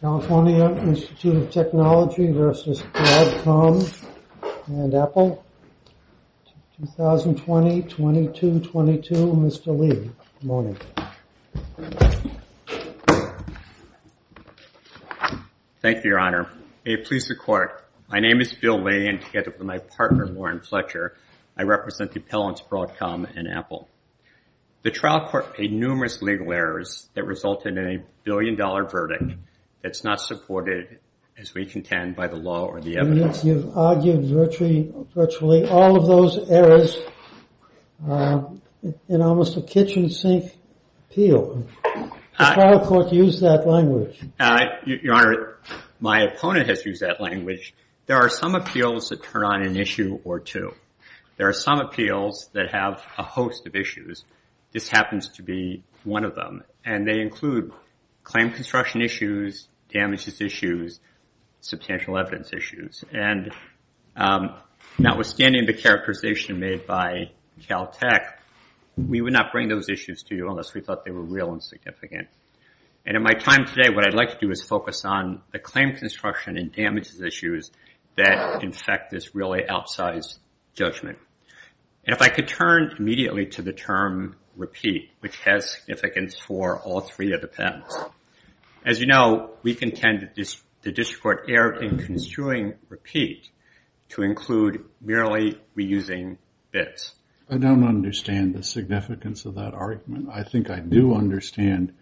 California Institute of Technology v. Broadcom and Apple 2020-22-22 Mr. Lee, good morning. Thank you, Your Honor. May it please the Court, my name is Bill Lee and together with my partner, Lauren Fletcher, I represent the appellants Broadcom and Apple. The trial court paid numerous legal errors that resulted in a billion-dollar verdict that's not supported, as we contend, by the law or the evidence. You've argued virtually all of those errors in almost a kitchen sink appeal. The trial court used that language. My opponent has used that language. There are some appeals that turn on an issue or two. There are some appeals that have a host of issues. This happens to be one of them. They include claim construction issues, damages issues, and substantial evidence issues. Notwithstanding the characterization made by Caltech, we would not bring those issues to you unless we thought they were real and significant. In my time today, what I'd like to do is focus on the claim construction and damages issues that, in fact, this really outsize judgment. If I could turn immediately to the term repeat, which has significance for all three of the patents. As you know, we contend the district court erred in construing repeat to include merely reusing bits. I don't understand the significance of that argument. I think I do understand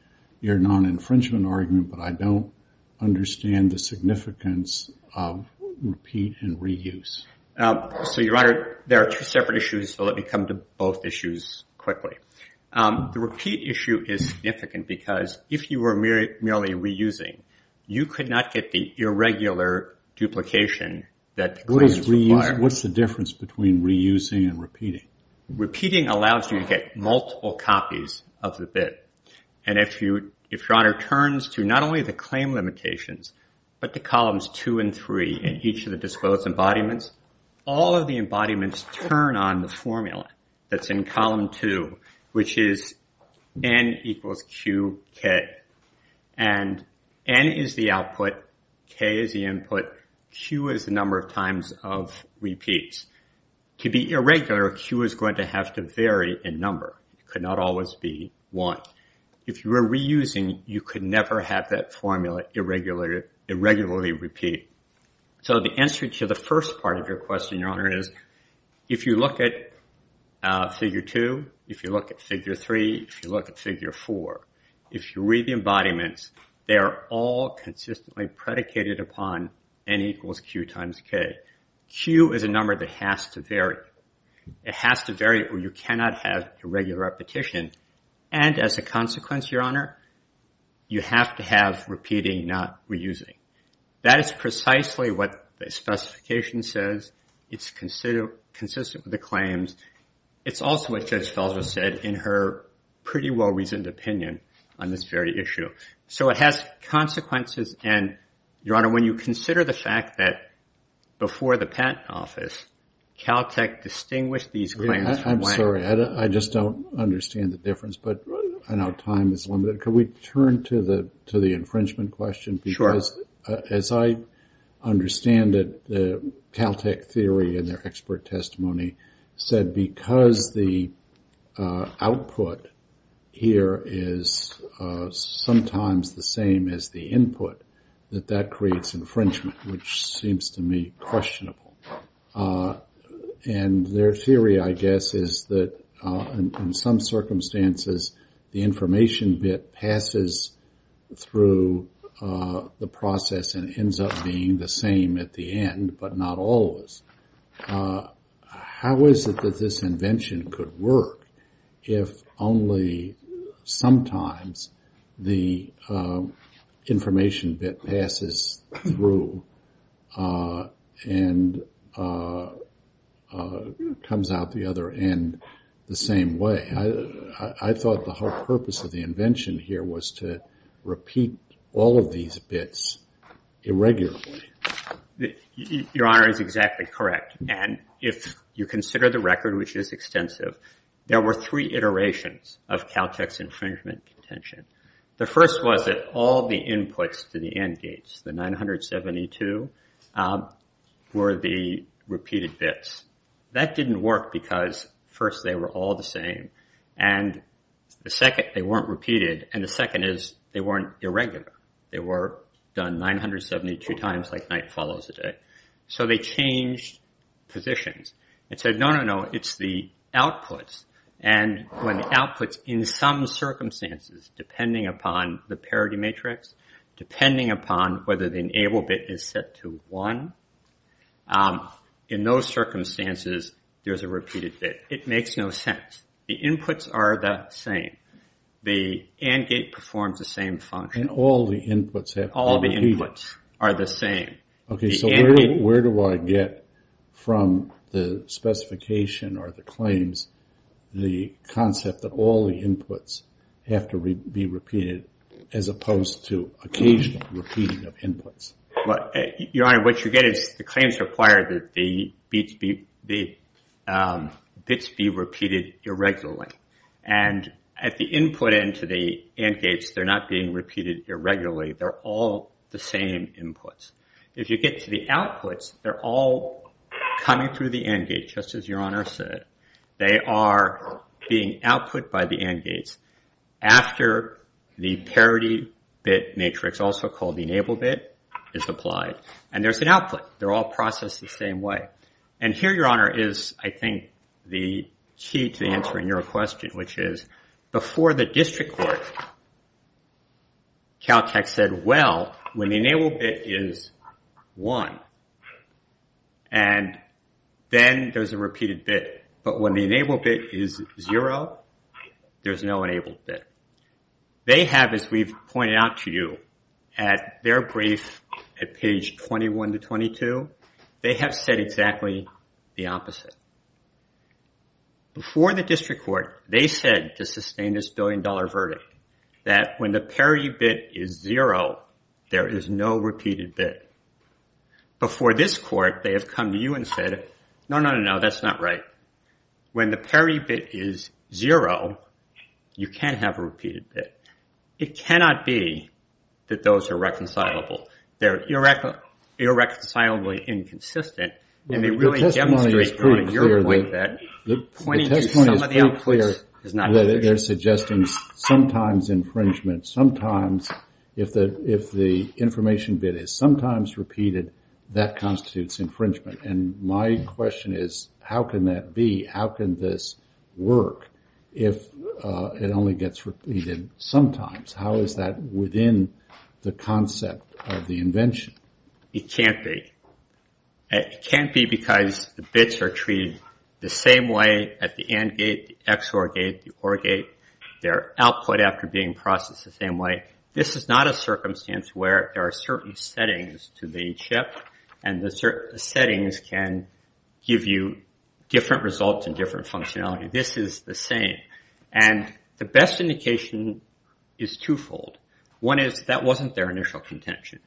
your non-infringement argument, but I don't understand the significance of repeat and reuse. Your Honor, there are two separate issues, so let me come to both issues quickly. The repeat issue is significant because if you were merely reusing, you could not get the irregular duplication that the claims require. What's the difference between reusing and repeating? Repeating allows you to get multiple copies of the bit. If Your Honor turns to not only the claim limitations, but to columns two and three in each of the disclosed embodiments, all of the embodiments turn on the formula that's in column two, which is N equals QK. N is the output, K is the input, Q is the number of times of repeats. To be irregular, Q is going to have to vary in number. It could not always be one. If you were reusing, you could never have that formula irregularly repeat. So the answer to the first part of your question, Your Honor, is if you look at figure two, if you look at figure three, if you look at figure four, if you read the embodiments, they are all consistently predicated upon N equals Q times K. Q is a number that has to vary. It has to vary or you cannot have irregular repetition. And as a consequence, Your Honor, you have to have repeating, not reusing. That is precisely what the specification says. It's consistent with the claims. It's also what Judge Felser said in her pretty well-reasoned opinion on this very issue. So it has consequences. Your Honor, when you consider the fact that before the Patent Office, Caltech distinguished these claims from... I'm sorry. I just don't understand the difference, but I know time is limited. Could we turn to the infringement question? Sure. As I understand it, the Caltech theory in their expert testimony said because the output here is sometimes the same as the input, that that creates infringement, which seems to me questionable. And their theory, I guess, is that in some circumstances, the information bit passes through the process and ends up being the same at the end, but not always. How is it that this invention could work if only sometimes the information bit passes through and comes out the other end the same way? I thought the whole purpose of the invention here was to repeat all of these bits irregularly. Your Honor is exactly correct. And if you consider the record, which is extensive, there were three iterations of Caltech's infringement contention. The first was that all of the inputs to the AND gates, the 972, were the repeated bits. That didn't work because first, they were all the same. And the second, they weren't repeated. And the second is they weren't irregular. They were done 972 times like night follows day. So they changed positions. It said, no, no, no, it's the outputs. And when the outputs, in some circumstances, depending upon the parity matrix, depending upon whether the enable bit is set to 1, in those circumstances, there's a repeated bit. It makes no sense. The inputs are the same. The AND gate performs the same function. And all the inputs have to be repeated. All the inputs are the same. Okay, so where do I get from the specification or the claims the concept that all the inputs have to be repeated as opposed to occasional repeating of inputs? Your Honor, what you get is the claims require that the bits be repeated irregularly. And at the input end to the AND gates, they're not being repeated irregularly. They're all the same inputs. If you get to the outputs, they're all coming through the AND gate, just as Your Honor said. They are being output by the AND gates after the parity bit matrix, also called the enable bit, is applied. And there's an output. They're all processed the same way. And here, Your Honor, is, I think, the key to answering your question, which is before the district court, Caltech said, well, when the enable bit is 1, and then there's a repeated bit, but when the enable bit is 0, there's no enable bit. They have, as we've pointed out to you, at their brief at page 21 to 22, they have said exactly the opposite. Before the district court, they said, to sustain this billion dollar verdict, that when the parity bit is 0, there is no repeated bit. Before this court, they have come to you and said, no, no, no, no, that's not right. When the parity bit is 0, you can't have a repeated bit. It cannot be that those are reconcilable. They're irreconcilably inconsistent, and they really demonstrate, Your Honor, your point that pointing to some of the outputs is not very good. The testimony is pretty clear that they're suggesting sometimes infringement, sometimes if the information bit is sometimes repeated, that constitutes infringement. And my question is, how can that be? How can this work if it only gets repeated sometimes? How is that within the concept of the invention? It can't be. It can't be because the bits are treated the same way at the AND gate, the XOR gate, the OR gate. They're output after being processed the same way. This is not a circumstance where there are certain settings to the chip, and the settings can give you different results and different functionality. This is the same. And the best indication is twofold. One is that wasn't their initial contention.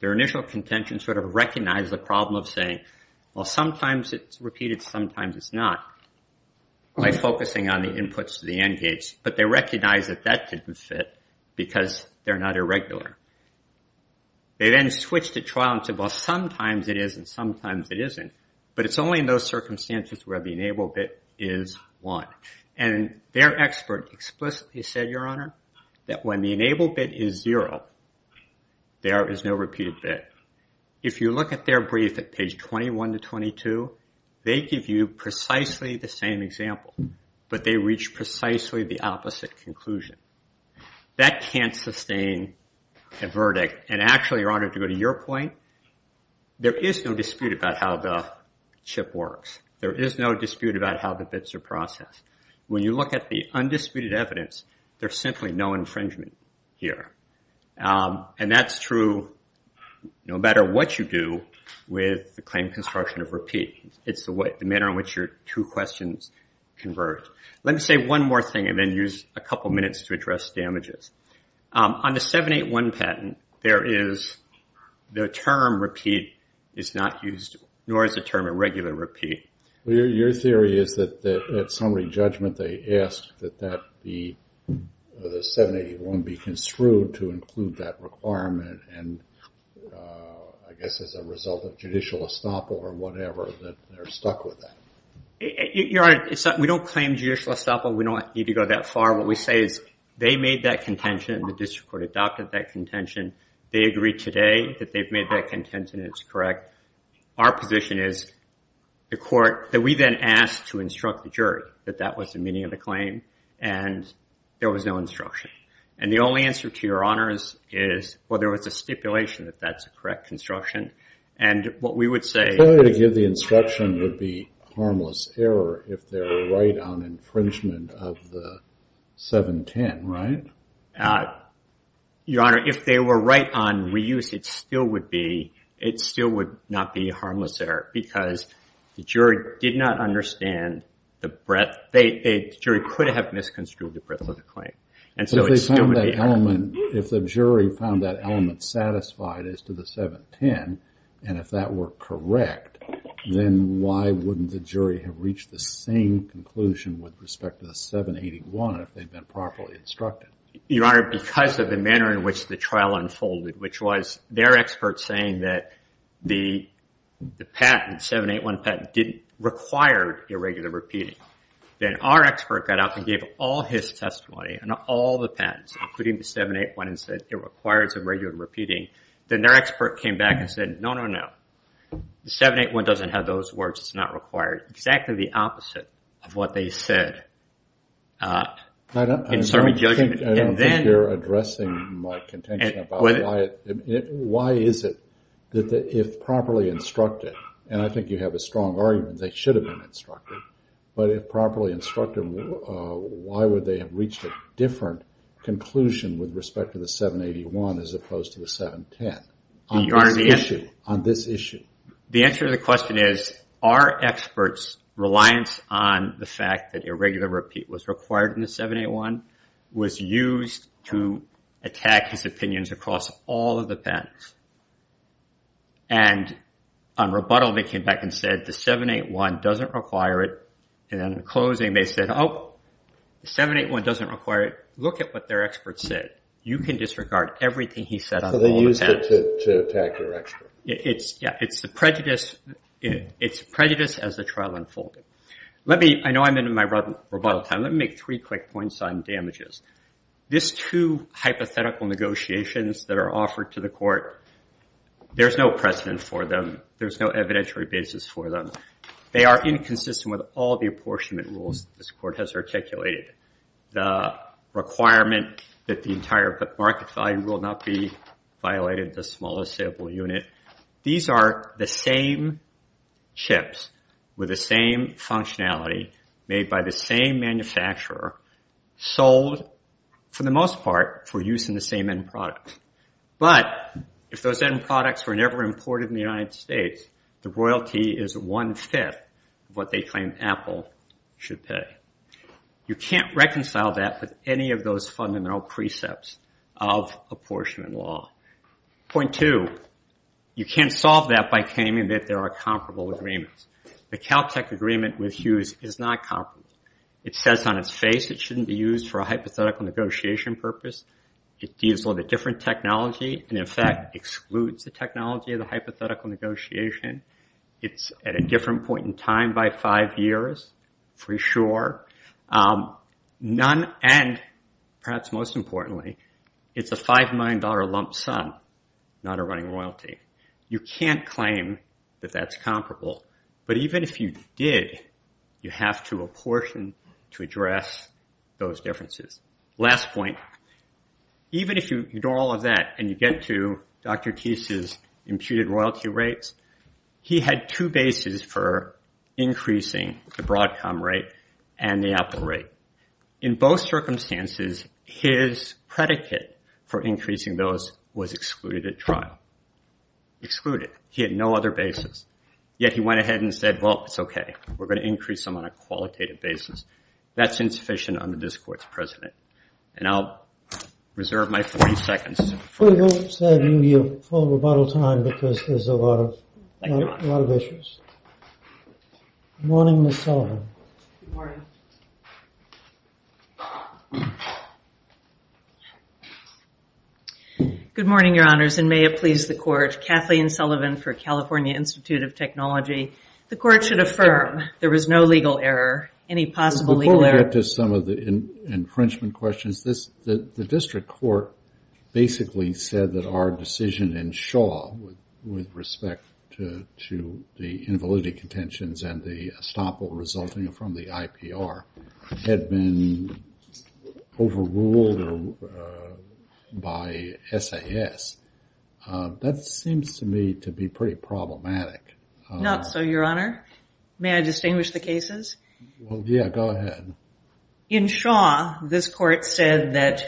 Their initial contention sort of recognized the problem of saying, well, sometimes it's repeated, sometimes it's not, by focusing on the inputs to the AND gates. But they recognized that that didn't fit because they're not irregular. They then switched to trial and said, well, sometimes it is and sometimes it isn't. But it's only in those circumstances where the enable bit is 1. And their expert explicitly said, Your Honor, that when the enable bit is 0, there is no repeated bit. If you look at their brief at page 21 to 22, they give you precisely the same example, but they reach precisely the opposite conclusion. That can't sustain a verdict. And actually, Your Honor, to go to your point, there is no dispute about how the chip works. There is no dispute about how the bits are processed. When you look at the undisputed evidence, there's simply no infringement here. And that's true no matter what you do with the claim construction of repeat. It's the manner in which your two questions converge. Let me say one more thing and then use a couple minutes to address damages. On the 781 patent, the term repeat is not used, nor is the term irregular repeat. Your theory is that at summary judgment, they ask that the 781 be construed to include that requirement, and I guess as a result of judicial estoppel or whatever, that they're stuck with that. Your Honor, we don't claim judicial estoppel. We don't need to go that far. What we say is they made that contention, and the district court adopted that contention. They agree today that they've made that contention, and it's correct. Our position is the court that we then asked to instruct the jury that that was the meaning of the claim, and there was no instruction. And the only answer to Your Honor's is, well, there was a stipulation that that's a correct construction. And what we would say- The instruction would be harmless error if they were right on infringement of the 710, right? Your Honor, if they were right on reuse, it still would not be a harmless error, because the jury did not understand the breadth. The jury could have misconstrued the breadth of the claim. And so it still would be error. If the jury found that element satisfied as to the 710, and if that were correct, then why wouldn't the jury have reached the same conclusion with respect to the 781 if they'd been properly instructed? Your Honor, because of the manner in which the trial unfolded, which was their expert saying that the patent, 781 patent, didn't require irregular repeating. Then our expert got up and gave all his testimony on all the patents, including the 781, and said it requires irregular repeating. Then their expert came back and said, no, no, no. The 781 doesn't have those words. It's not required. Exactly the opposite of what they said. I don't think you're addressing my contention about why is it that if properly instructed, and I think you have a strong argument that they should have been instructed, but if properly instructed, why would they have reached a different conclusion with respect to the 781 as opposed to the 710 on this issue? The answer to the question is, are experts reliant on the fact that irregular repeat was required in the 781, was used to attack his opinions across all of the patents? And on rebuttal, they came back and said, the 781 doesn't require it. And then in closing, they said, oh, the 781 doesn't require it. Look at what their expert said. You can disregard everything he said on all the patents. So they used it to attack their expert. Yeah. It's the prejudice as the trial unfolded. I know I'm in my rebuttal time. Let me make three quick points on damages. These two hypothetical negotiations that are offered to the court there's no precedent for them. There's no evidentiary basis for them. They are inconsistent with all the apportionment rules this court has articulated. The requirement that the entire market value will not be violated, the smallest sample unit. These are the same chips with the same functionality made by the same manufacturer sold, for the most part, for use in the same end product. But if those end products were never imported in the United States, the royalty is one fifth of what they claim Apple should pay. You can't reconcile that with any of those fundamental precepts of apportionment law. Point two, you can't solve that by claiming that there are comparable agreements. The Caltech agreement with Hughes is not comparable. It says on its face it shouldn't be used for a hypothetical negotiation purpose. It deals with a different technology and, in fact, excludes the technology of the hypothetical negotiation. It's at a different point in time by five years, for sure. None, and perhaps most importantly, it's a $5 million lump sum, not a running royalty. You can't claim that that's comparable. But even if you did, you have to apportion to address those differences. Last point, even if you ignore all of that and you get to Dr. Teiss' imputed royalty rates, he had two bases for increasing the Broadcom rate and the Apple rate. In both circumstances, his predicate for increasing those was excluded at trial. Excluded. He had no other basis. Yet he went ahead and said, well, it's OK. We're going to increase them on a qualitative basis. That's insufficient under this court's precedent. And I'll reserve my 40 seconds. We won't save you your full rebuttal time because there's a lot of issues. Morning, Ms. Sullivan. Good morning. Good morning, Your Honors, and may it please the court. Kathleen Sullivan for California Institute of Technology. The court should affirm there was no legal error. Any possible legal error? Before we get to some of the infringement questions, the district court basically said that our decision in Shaw with respect to the invalidity contentions and the estoppel resulting from the IPR had been overruled by SAS. That seems to me to be pretty problematic. Not so, Your Honor. May I distinguish the cases? Yeah, go ahead. In Shaw, this court said that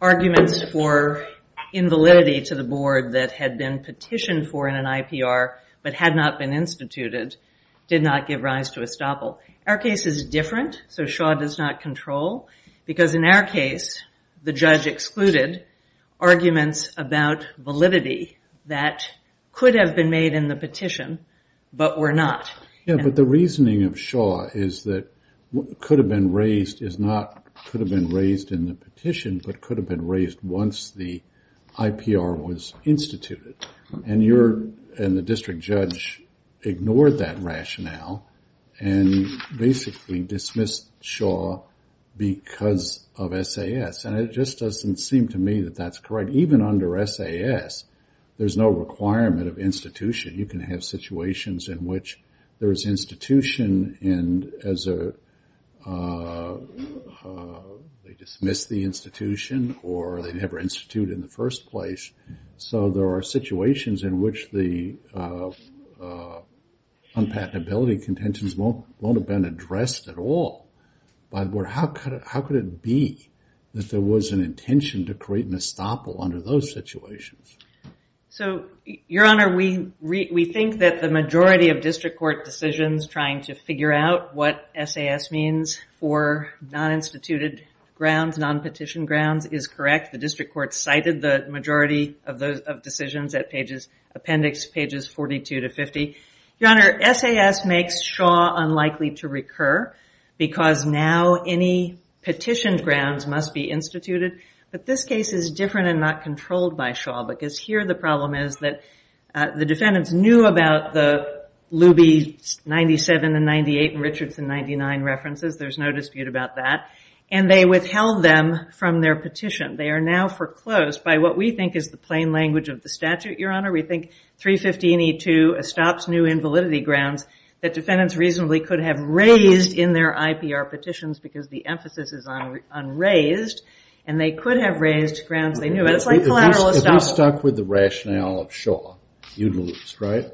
arguments for invalidity to the board that had been petitioned for in an IPR but had not been instituted did not give rise to estoppel. Our case is different, so Shaw does not control. Because in our case, the judge excluded arguments about validity that could have been made in the petition but were not. Yeah, but the reasoning of Shaw is that what could have been raised is not could have been raised in the petition but could have been raised once the IPR was instituted. And the district judge ignored that rationale and basically dismissed Shaw because of SAS. And it just doesn't seem to me that that's correct. Even under SAS, there's no requirement of institution. You can have situations in which there is institution and they dismiss the institution or they never institute in the first place. So there are situations in which the unpatentability contentions won't have been addressed at all. But how could it be that there was an intention to create an estoppel under those situations? So Your Honor, we think that the majority of district court decisions trying to figure out what SAS means for non-instituted grounds, non-petition grounds, is correct. The district court cited the majority of decisions at appendix pages 42 to 50. Your Honor, SAS makes Shaw unlikely to recur because now any petitioned grounds must be instituted. But this case is different and not controlled by Shaw. Because here, the problem is that the defendants knew about the Luby 97 and 98 and Richardson 99 references. There's no dispute about that. And they withheld them from their petition. They are now foreclosed by what we think is the plain language of the statute, Your Honor. We think 350 and 82 estops new invalidity grounds that defendants reasonably could have raised in their IPR petitions because the emphasis is on raised. And they could have raised grounds they knew. But it's like collateral estops. If we stuck with the rationale of Shaw, you'd lose, right?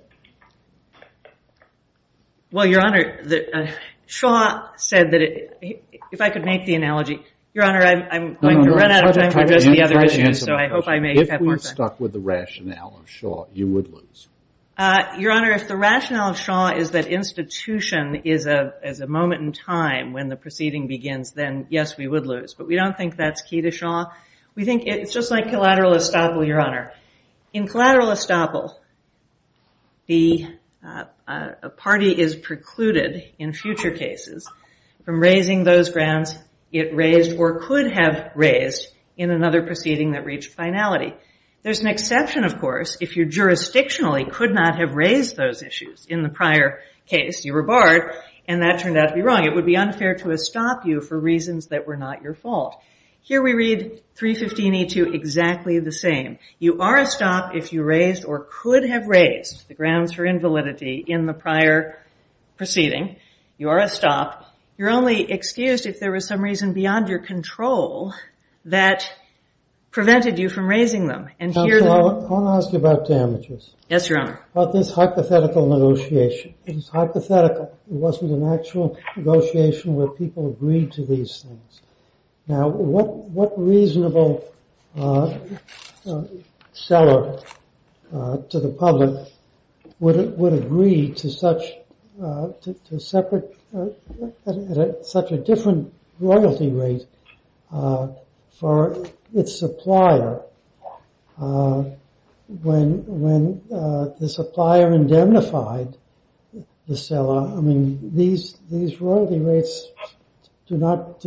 Well, Your Honor, Shaw said that it, if I could make the analogy, Your Honor, I'm going to run out of time for addressing the other issues. So I hope I make that more clear. If we stuck with the rationale of Shaw, you would lose. Your Honor, if the rationale of Shaw is that institution is a moment in time when the proceeding begins, then yes, we would lose. But we don't think that's key to Shaw. We think it's just like collateral estoppel, Your Honor. In collateral estoppel, the party is precluded in future cases from raising those grounds it raised or could have raised in another proceeding that reached finality. There's an exception, of course, if you jurisdictionally could not have raised those issues in the prior case. You were barred, and that turned out to be wrong. It would be unfair to estop you for reasons that were not your fault. Here we read 315E2 exactly the same. You are estopped if you raised or could have raised the grounds for invalidity in the prior proceeding. You are estopped. You're only excused if there was some reason beyond your control that prevented you from raising them. And here the- I want to ask you about damages. Yes, Your Honor. About this hypothetical negotiation. It is hypothetical. It wasn't an actual negotiation where people agreed to these things. Now, what reasonable seller to the public would agree to such a different royalty rate for its supplier when the supplier indemnified the seller? I mean, these royalty rates do not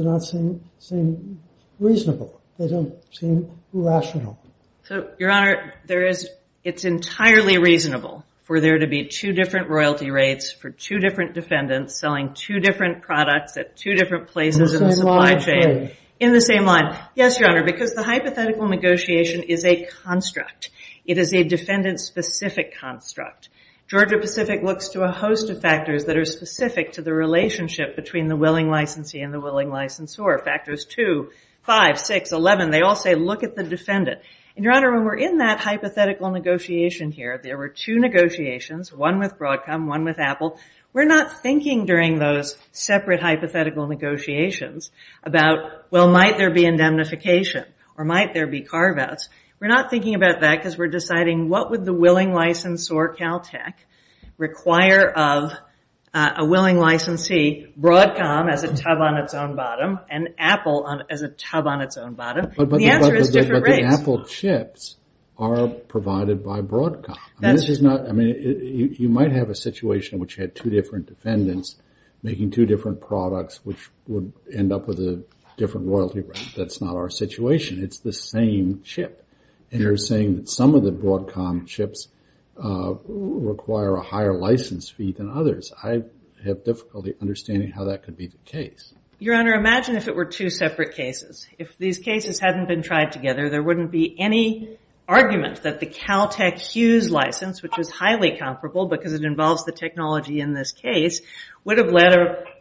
seem reasonable. They don't seem rational. So, Your Honor, it's entirely reasonable for there to be two different royalty rates for two different defendants selling two different products at two different places in the supply chain in the same line. Yes, Your Honor, because the hypothetical negotiation is a construct. It is a defendant-specific construct. Georgia Pacific looks to a host of factors that are specific to the relationship between the willing licensee and the willing licensor. Factors 2, 5, 6, 11, they all say, look at the defendant. And, Your Honor, when we're in that hypothetical negotiation here, there were two negotiations, one with Broadcom, one with Apple. We're not thinking during those separate hypothetical negotiations about, well, might there be indemnification or might there be carve-outs. We're not thinking about that because we're deciding, what would the willing licensor, Caltech, require of a willing licensee? Broadcom as a tub on its own bottom and Apple as a tub on its own bottom. The answer is different rates. But the Apple chips are provided by Broadcom. I mean, you might have a situation in which you had two different defendants making two different products, which would end up with a different royalty rate. That's not our situation. It's the same chip. And you're saying that some of the Broadcom chips require a higher license fee than others. I have difficulty understanding how that could be the case. Your Honor, imagine if it were two separate cases. If these cases hadn't been tried together, there wouldn't be any argument that the Caltech Hughes license, which is highly comparable because it involves the technology in this case, would have led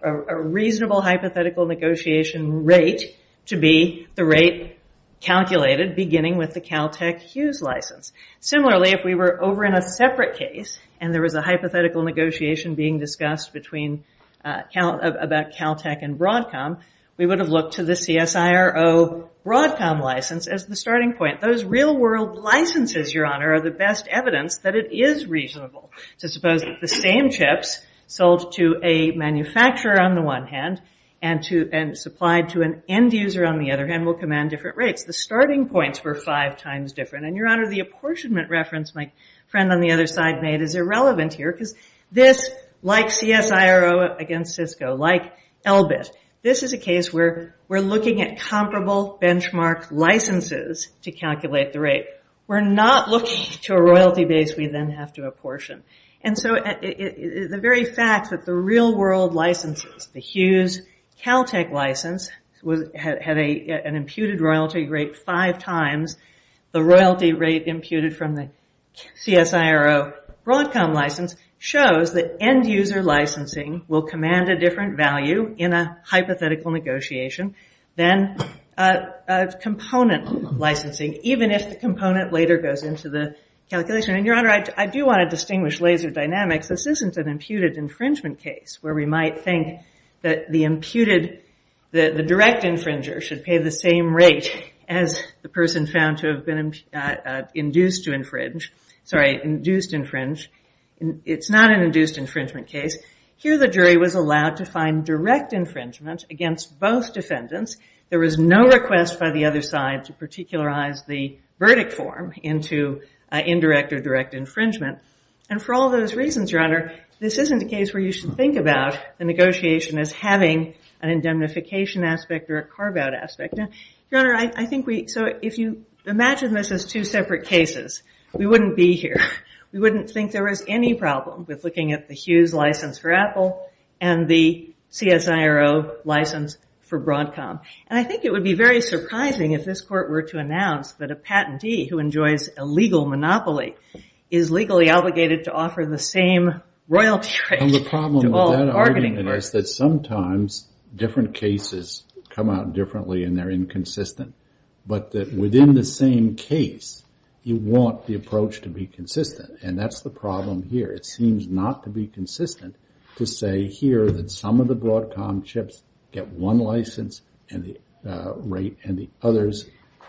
a reasonable hypothetical negotiation rate to be the rate calculated beginning with the Caltech Hughes license. Similarly, if we were over in a separate case and there was a hypothetical negotiation being discussed between Caltech and Broadcom, we would have looked to the CSIRO Broadcom license as the starting point. Those real world licenses, Your Honor, are the best evidence that it is reasonable to suppose that the same chips sold to a manufacturer on the one hand and supplied to an end user on the other hand will command different rates. The starting points were five times different. And Your Honor, the apportionment reference my friend on the other side made is irrelevant here because this, like CSIRO against Cisco, like Elbit, this is a case where we're looking at comparable benchmark licenses to calculate the rate. We're not looking to a royalty base we then have to apportion. And so the very fact that the real world licenses, the Hughes Caltech license, had an imputed royalty rate five times, the royalty rate imputed from the CSIRO Broadcom license shows that end user licensing will command a different value in a hypothetical negotiation than component licensing, even if the component later goes into the calculation. And Your Honor, I do want to distinguish laser dynamics. This isn't an imputed infringement case where we might think that the direct infringer should pay the same rate as the person found to have been induced to infringe. Sorry, induced infringe. It's not an induced infringement case. Here the jury was allowed to find direct infringement against both defendants. There was no request by the other side to particularize the verdict form into indirect or direct infringement. And for all those reasons, Your Honor, this isn't a case where you should think about the negotiation as having an indemnification aspect or a carve out aspect. Your Honor, I think we, so if you imagine this as two separate cases, we wouldn't be here. We wouldn't think there was any problem with looking at the Hughes license for Apple and the CSIRO license for Broadcom. And I think it would be very surprising if this court were to announce that a patentee who enjoys a legal monopoly is legally obligated to offer the same royalty rate to all bargaining partners, that sometimes different cases come out differently and they're inconsistent, but that within the same case, you want the approach to be consistent. And that's the problem here. It seems not to be consistent to say here that some of the Broadcom chips get one license and the rate and the others,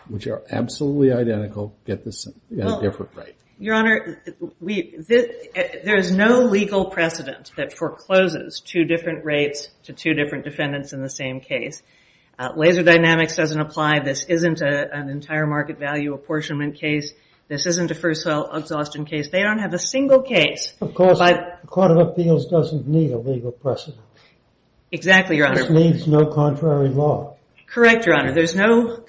which are absolutely identical, get a different rate. Your Honor, there is no legal precedent that forecloses two different rates to two different defendants in the same case. Laser dynamics doesn't apply. This isn't an entire market value apportionment case. This isn't a first sale exhaustion case. They don't have a single case. Of course, the Court of Appeals doesn't need a legal precedent. Exactly, Your Honor. It needs no contrary law. Correct, Your Honor. There's no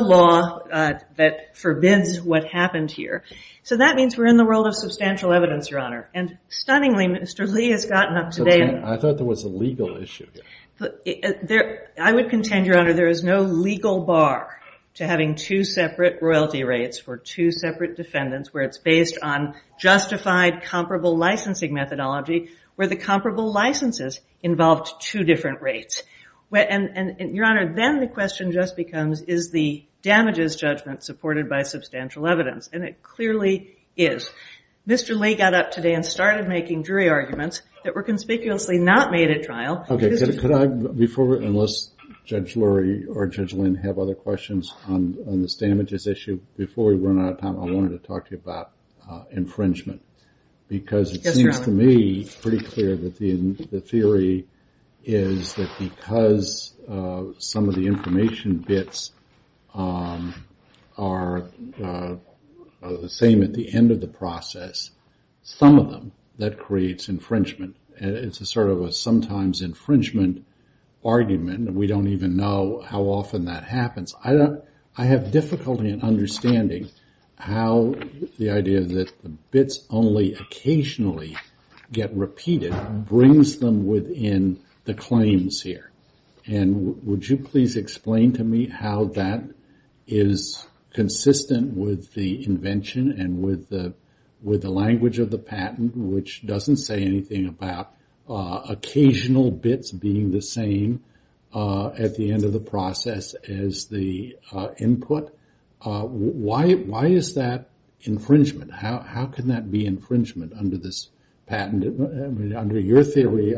law that forbids what happened here. So that means we're in the world of substantial evidence, Your Honor. And stunningly, Mr. Lee has gotten up today and- I thought there was a legal issue here. I would contend, Your Honor, there is no legal bar to having two separate royalty rates for two separate defendants where it's based on justified comparable licensing methodology, where the comparable licenses involved two different rates. And Your Honor, then the question just becomes, is the damages judgment supported by substantial evidence? And it clearly is. Mr. Lee got up today and started making jury arguments that were conspicuously not made at trial. OK, could I, before, unless Judge Lurie or Judge Lynn have other questions on this damages issue, before we run out of time, I wanted to talk to you about infringement. Because it seems to me pretty clear that the theory is that because some of the information bits are the same at the end of the process, some of them, that creates infringement. And it's a sort of a sometimes infringement argument. We don't even know how often that happens. I have difficulty in understanding how the idea that the bits only occasionally get repeated brings them within the claims here. And would you please explain to me how that is consistent with the invention and with the language of the patent, which doesn't say anything about occasional bits being the same at the end of the process as the input? Why is that infringement? How can that be infringement under this patent? Under your theory,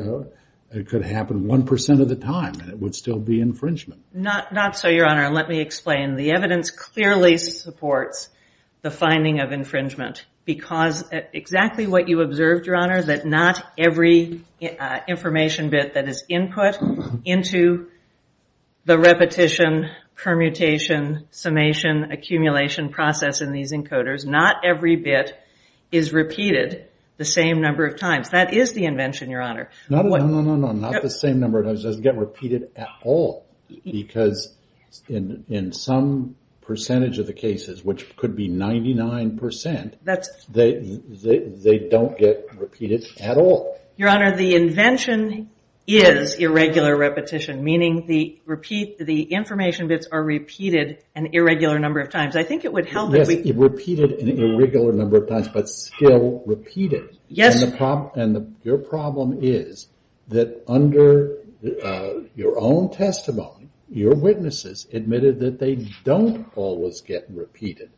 it could happen 1% of the time, and it would still be infringement. Not so, Your Honor. Let me explain. The evidence clearly supports the finding of infringement. Because exactly what you observed, Your Honor, that not every information bit that is input into the repetition, permutation, summation, accumulation process in these encoders, not every bit is repeated the same number of times. That is the invention, Your Honor. No, no, no, no, no. Not the same number of times. It doesn't get repeated at all. Because in some percentage of the cases, which could be 99%, they don't get repeated at all. Your Honor, the invention is irregular repetition, meaning the information bits are repeated an irregular number of times. I think it would help if we- But still repeated. And your problem is that under your own testimony, your witnesses admitted that they don't always get repeated.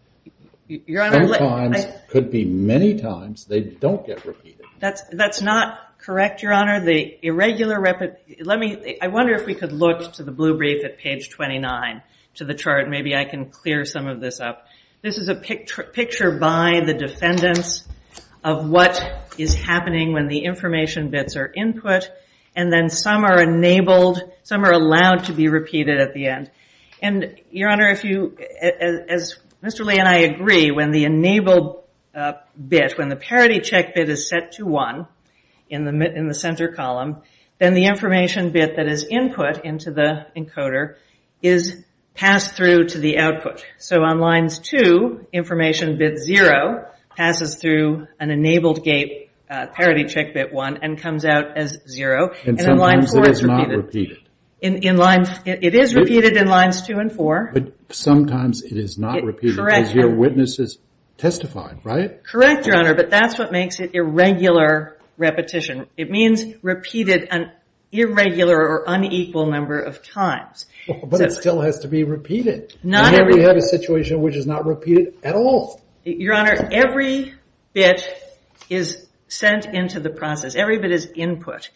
Sometimes, could be many times, they don't get repeated. That's not correct, Your Honor. I wonder if we could look to the blue brief at page 29, to the chart. Maybe I can clear some of this up. This is a picture by the defendants of what is happening when the information bits are input. And then some are enabled, some are allowed to be repeated at the end. And Your Honor, as Mr. Lee and I agree, when the enabled bit, when the parity check bit is set to one in the center column, then the information bit that is input into the encoder is passed through to the output. So on lines two, information bit zero passes through an enabled gate, parity check bit one, and comes out as zero. And sometimes it is not repeated. It is repeated in lines two and four. But sometimes it is not repeated. Correct. Because your witnesses testified, right? Correct, Your Honor. But that's what makes it irregular repetition. It means repeated an irregular or unequal number of times. But it still has to be repeated. And then we have a situation which is not repeated at all. Your Honor, every bit is sent into the process. Every bit is input.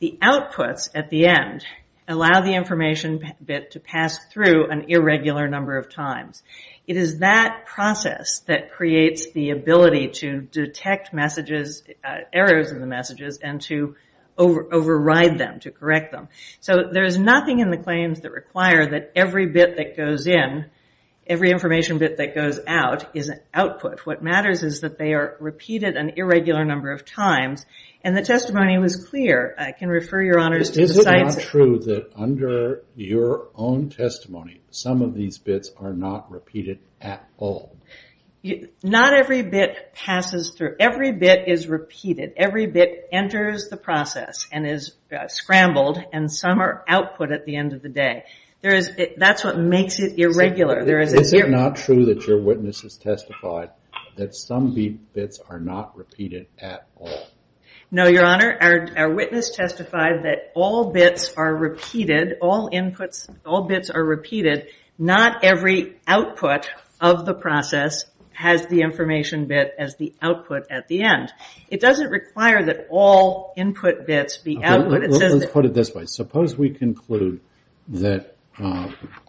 The outputs at the end allow the information bit to pass through an irregular number of times. It is that process that creates the ability to detect errors in the messages and to override them, to correct them. So there is nothing in the claims that require that every bit that goes in, every information bit that goes out, is an output. What matters is that they are repeated an irregular number of times. And the testimony was clear. I can refer your honors to the sites. Is it not true that under your own testimony, some of these bits are not repeated at all? Not every bit passes through. Every bit is repeated. Every bit enters the process and is scrambled. And some are output at the end of the day. That's what makes it irregular. Is it not true that your witnesses testified that some bits are not repeated at all? No, Your Honor. Our witness testified that all bits are repeated. All inputs, all bits are repeated. Not every output of the process has the information bit as the output at the end. It doesn't require that all input bits be output. Let's put it this way. Suppose we conclude that,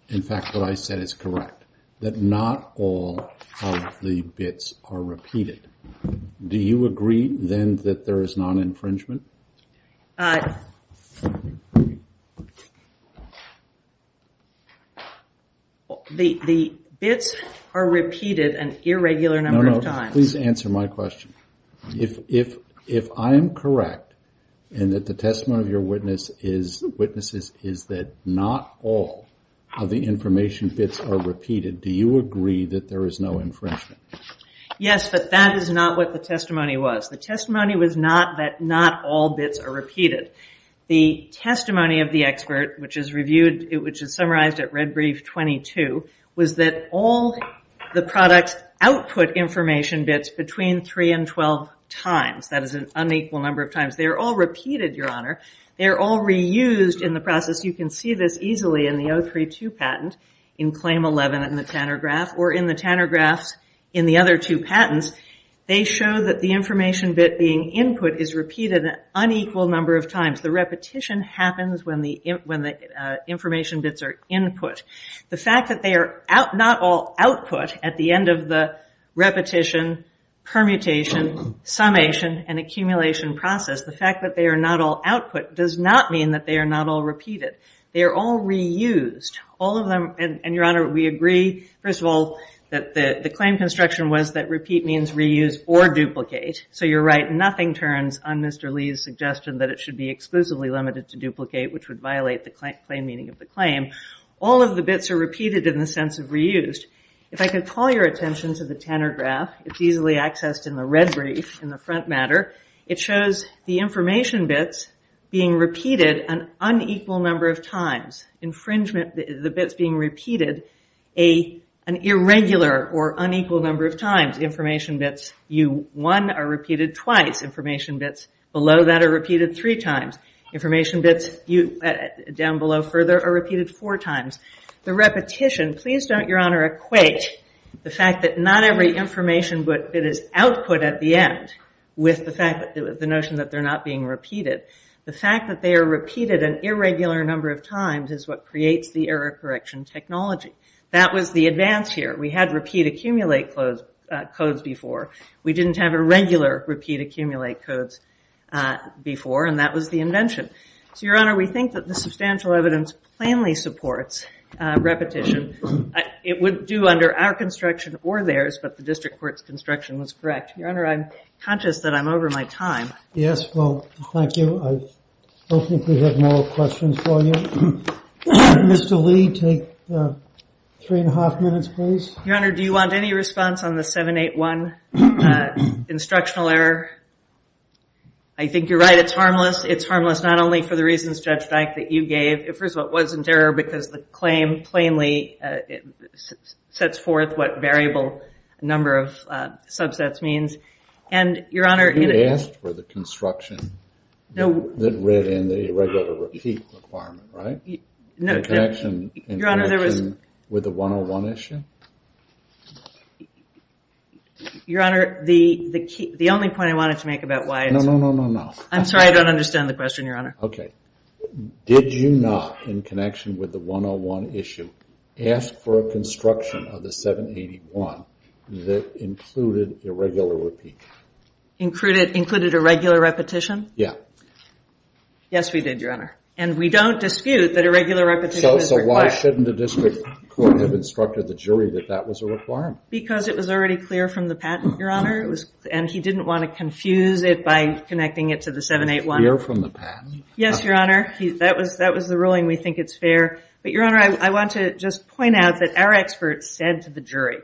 in fact, what I said is correct. That not all of the bits are repeated. Do you agree, then, that there is non-infringement? The bits are repeated an irregular number of times. No, no, please answer my question. If I am correct, and that the testimony of your witnesses is that not all of the information bits are repeated, do you agree that there is no infringement? Yes, but that is not what the testimony was. The testimony was not that not all bits are repeated. The testimony of the expert, which is reviewed, which is summarized at red brief 22, was that all the products output information bits between three and 12 times. That is an unequal number of times. They are all repeated, your honor. They are all reused in the process. You can see this easily in the 032 patent in claim 11 in the Tanner graph, or in the Tanner graphs in the other two patents. They show that the information bit being input is repeated an unequal number of times. The repetition happens when the information bits are input. The fact that they are not all output at the end of the repetition, permutation, summation, and accumulation process, the fact that they are not all output does not mean that they are not all repeated. They are all reused. All of them, and your honor, we agree, first of all, that the claim construction was that repeat means reuse or duplicate. So you're right, nothing turns on Mr. Lee's suggestion that it should be exclusively limited to duplicate, which would violate the claim meaning of the claim. All of the bits are repeated in the sense of reused. If I could call your attention to the Tanner graph, it's easily accessed in the red brief in the front matter. It shows the information bits being repeated an unequal number of times. Infringement, the bits being repeated, an irregular or unequal number of times. Information bits U1 are repeated twice. Information bits below that are repeated three times. Information bits down below further are repeated four times. The repetition, please don't, your honor, equate the fact that not every information bit is output at the end with the notion that they're not being repeated. The fact that they are repeated an irregular number of times is what creates the error correction technology. That was the advance here. We had repeat accumulate codes before. We didn't have a regular repeat accumulate codes before, and that was the invention. So your honor, we think that the substantial evidence plainly supports repetition. It would do under our construction or theirs, but the district court's construction was correct. Your honor, I'm conscious that I'm over my time. Yes, well, thank you. I don't think we have more questions for you. Mr. Lee, take three and a half minutes, please. Your honor, do you want any response on the 781 instructional error? I think you're right. It's harmless. It's harmless not only for the reasons, Judge Dyke, that you gave. First of all, it wasn't error because the claim plainly sets forth what variable number of subsets means. And your honor, in a- You asked for the construction that read in the irregular repeat requirement, right? No, your honor, there was- In connection with the 101 issue? Your honor, the only point I wanted to make about why it's- No, no, no, no, no. I'm sorry, I don't understand the question, your honor. OK. Did you not, in connection with the 101 issue, ask for a construction of the 781 that included irregular repeat? Included irregular repetition? Yeah. Yes, we did, your honor. And we don't dispute that irregular repetition is required. So why shouldn't the district court have instructed the jury that that was a requirement? Because it was already clear from the patent, your honor. And he didn't want to confuse it by connecting it to the 781. Clear from the patent? Yes, your honor. That was the ruling. We think it's fair. But your honor, I want to just point out that our experts said to the jury,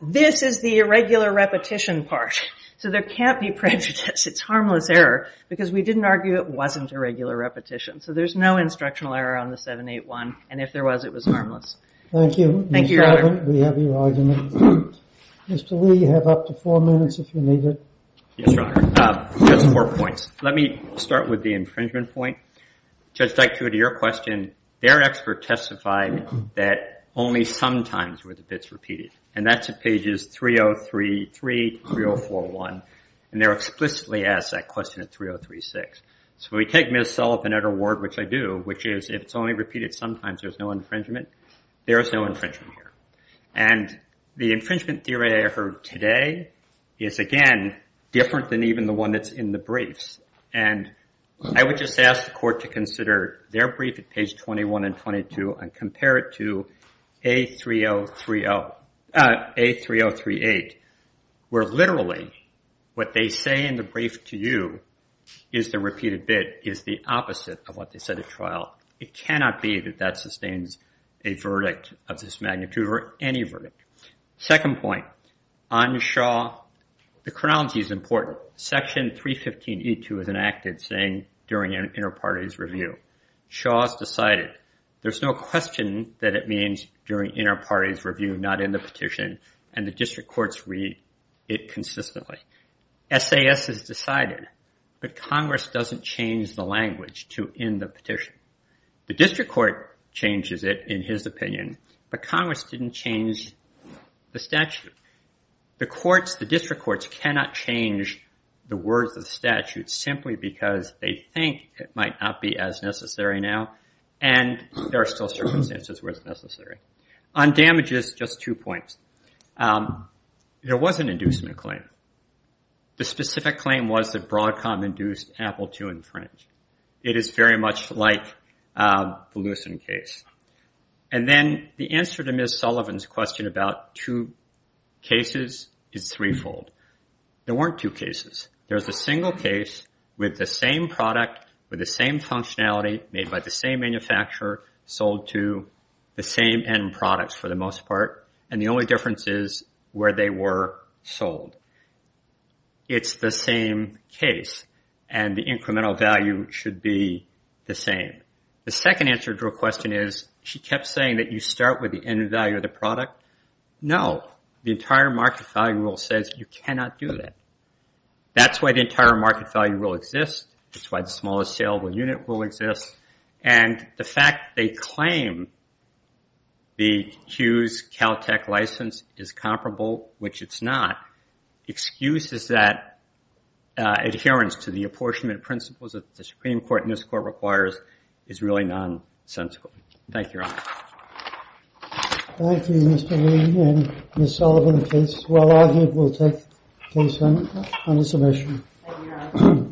this is the irregular repetition part. So there can't be prejudice. It's harmless error. Because we didn't argue it wasn't irregular repetition. So there's no instructional error on the 781. And if there was, it was harmless. Thank you. Thank you, your honor. We have your argument. Mr. Lee, you have up to four minutes if you need it. Yes, your honor. Just four points. Let me start with the infringement point. Judge Dykstra, to your question, their expert testified that only sometimes were the bits repeated. And that's at pages 3033, 3041. And they're explicitly asked that question at 3036. So we take Ms. Sullivan at her word, which I do, which is if it's only repeated sometimes, there's no infringement. There is no infringement here. And the infringement theory I heard today is, again, different than even the one that's in the briefs. And I would just ask the court to consider their brief at page 21 and 22 and compare it to A3038, where literally what they say in the brief to you is the repeated bit is the opposite of what they said at trial. It cannot be that that sustains a verdict of this magnitude or any verdict. Second point, on Shaw, the chronology is important. Section 315E2 is enacted saying during an inter-parties review. Shaw's decided. There's no question that it means during inter-parties review, not in the petition. And the district courts read it consistently. SAS is decided. But Congress doesn't change the language to end the petition. The district court changes it, in his opinion. But Congress didn't change the statute. The courts, the district courts cannot change the words of the statute simply because they think it might not be as necessary now. And there are still circumstances where it's necessary. On damages, just two points. There was an inducement claim. The specific claim was that Broadcom induced Apple to infringe. It is very much like the Lewiston case. And then the answer to Ms. Sullivan's question about two cases is threefold. There weren't two cases. There's a single case with the same product, with the same functionality, made by the same manufacturer, sold to the same end products for the most part. And the only difference is where they were sold. It's the same case. And the incremental value should be the same. The second answer to her question is she kept saying that you start with the end value of the product. No, the entire market value rule says you cannot do that. That's why the entire market value rule exists. That's why the smallest saleable unit rule exists. And the fact they claim the Hughes Caltech license is comparable, which it's not, excuses that adherence to the apportionment principles that the Supreme Court in this court requires is really nonsensical. Thank you, Your Honor. Thank you, Mr. Lee and Ms. Sullivan. Case will now be taken on the submission.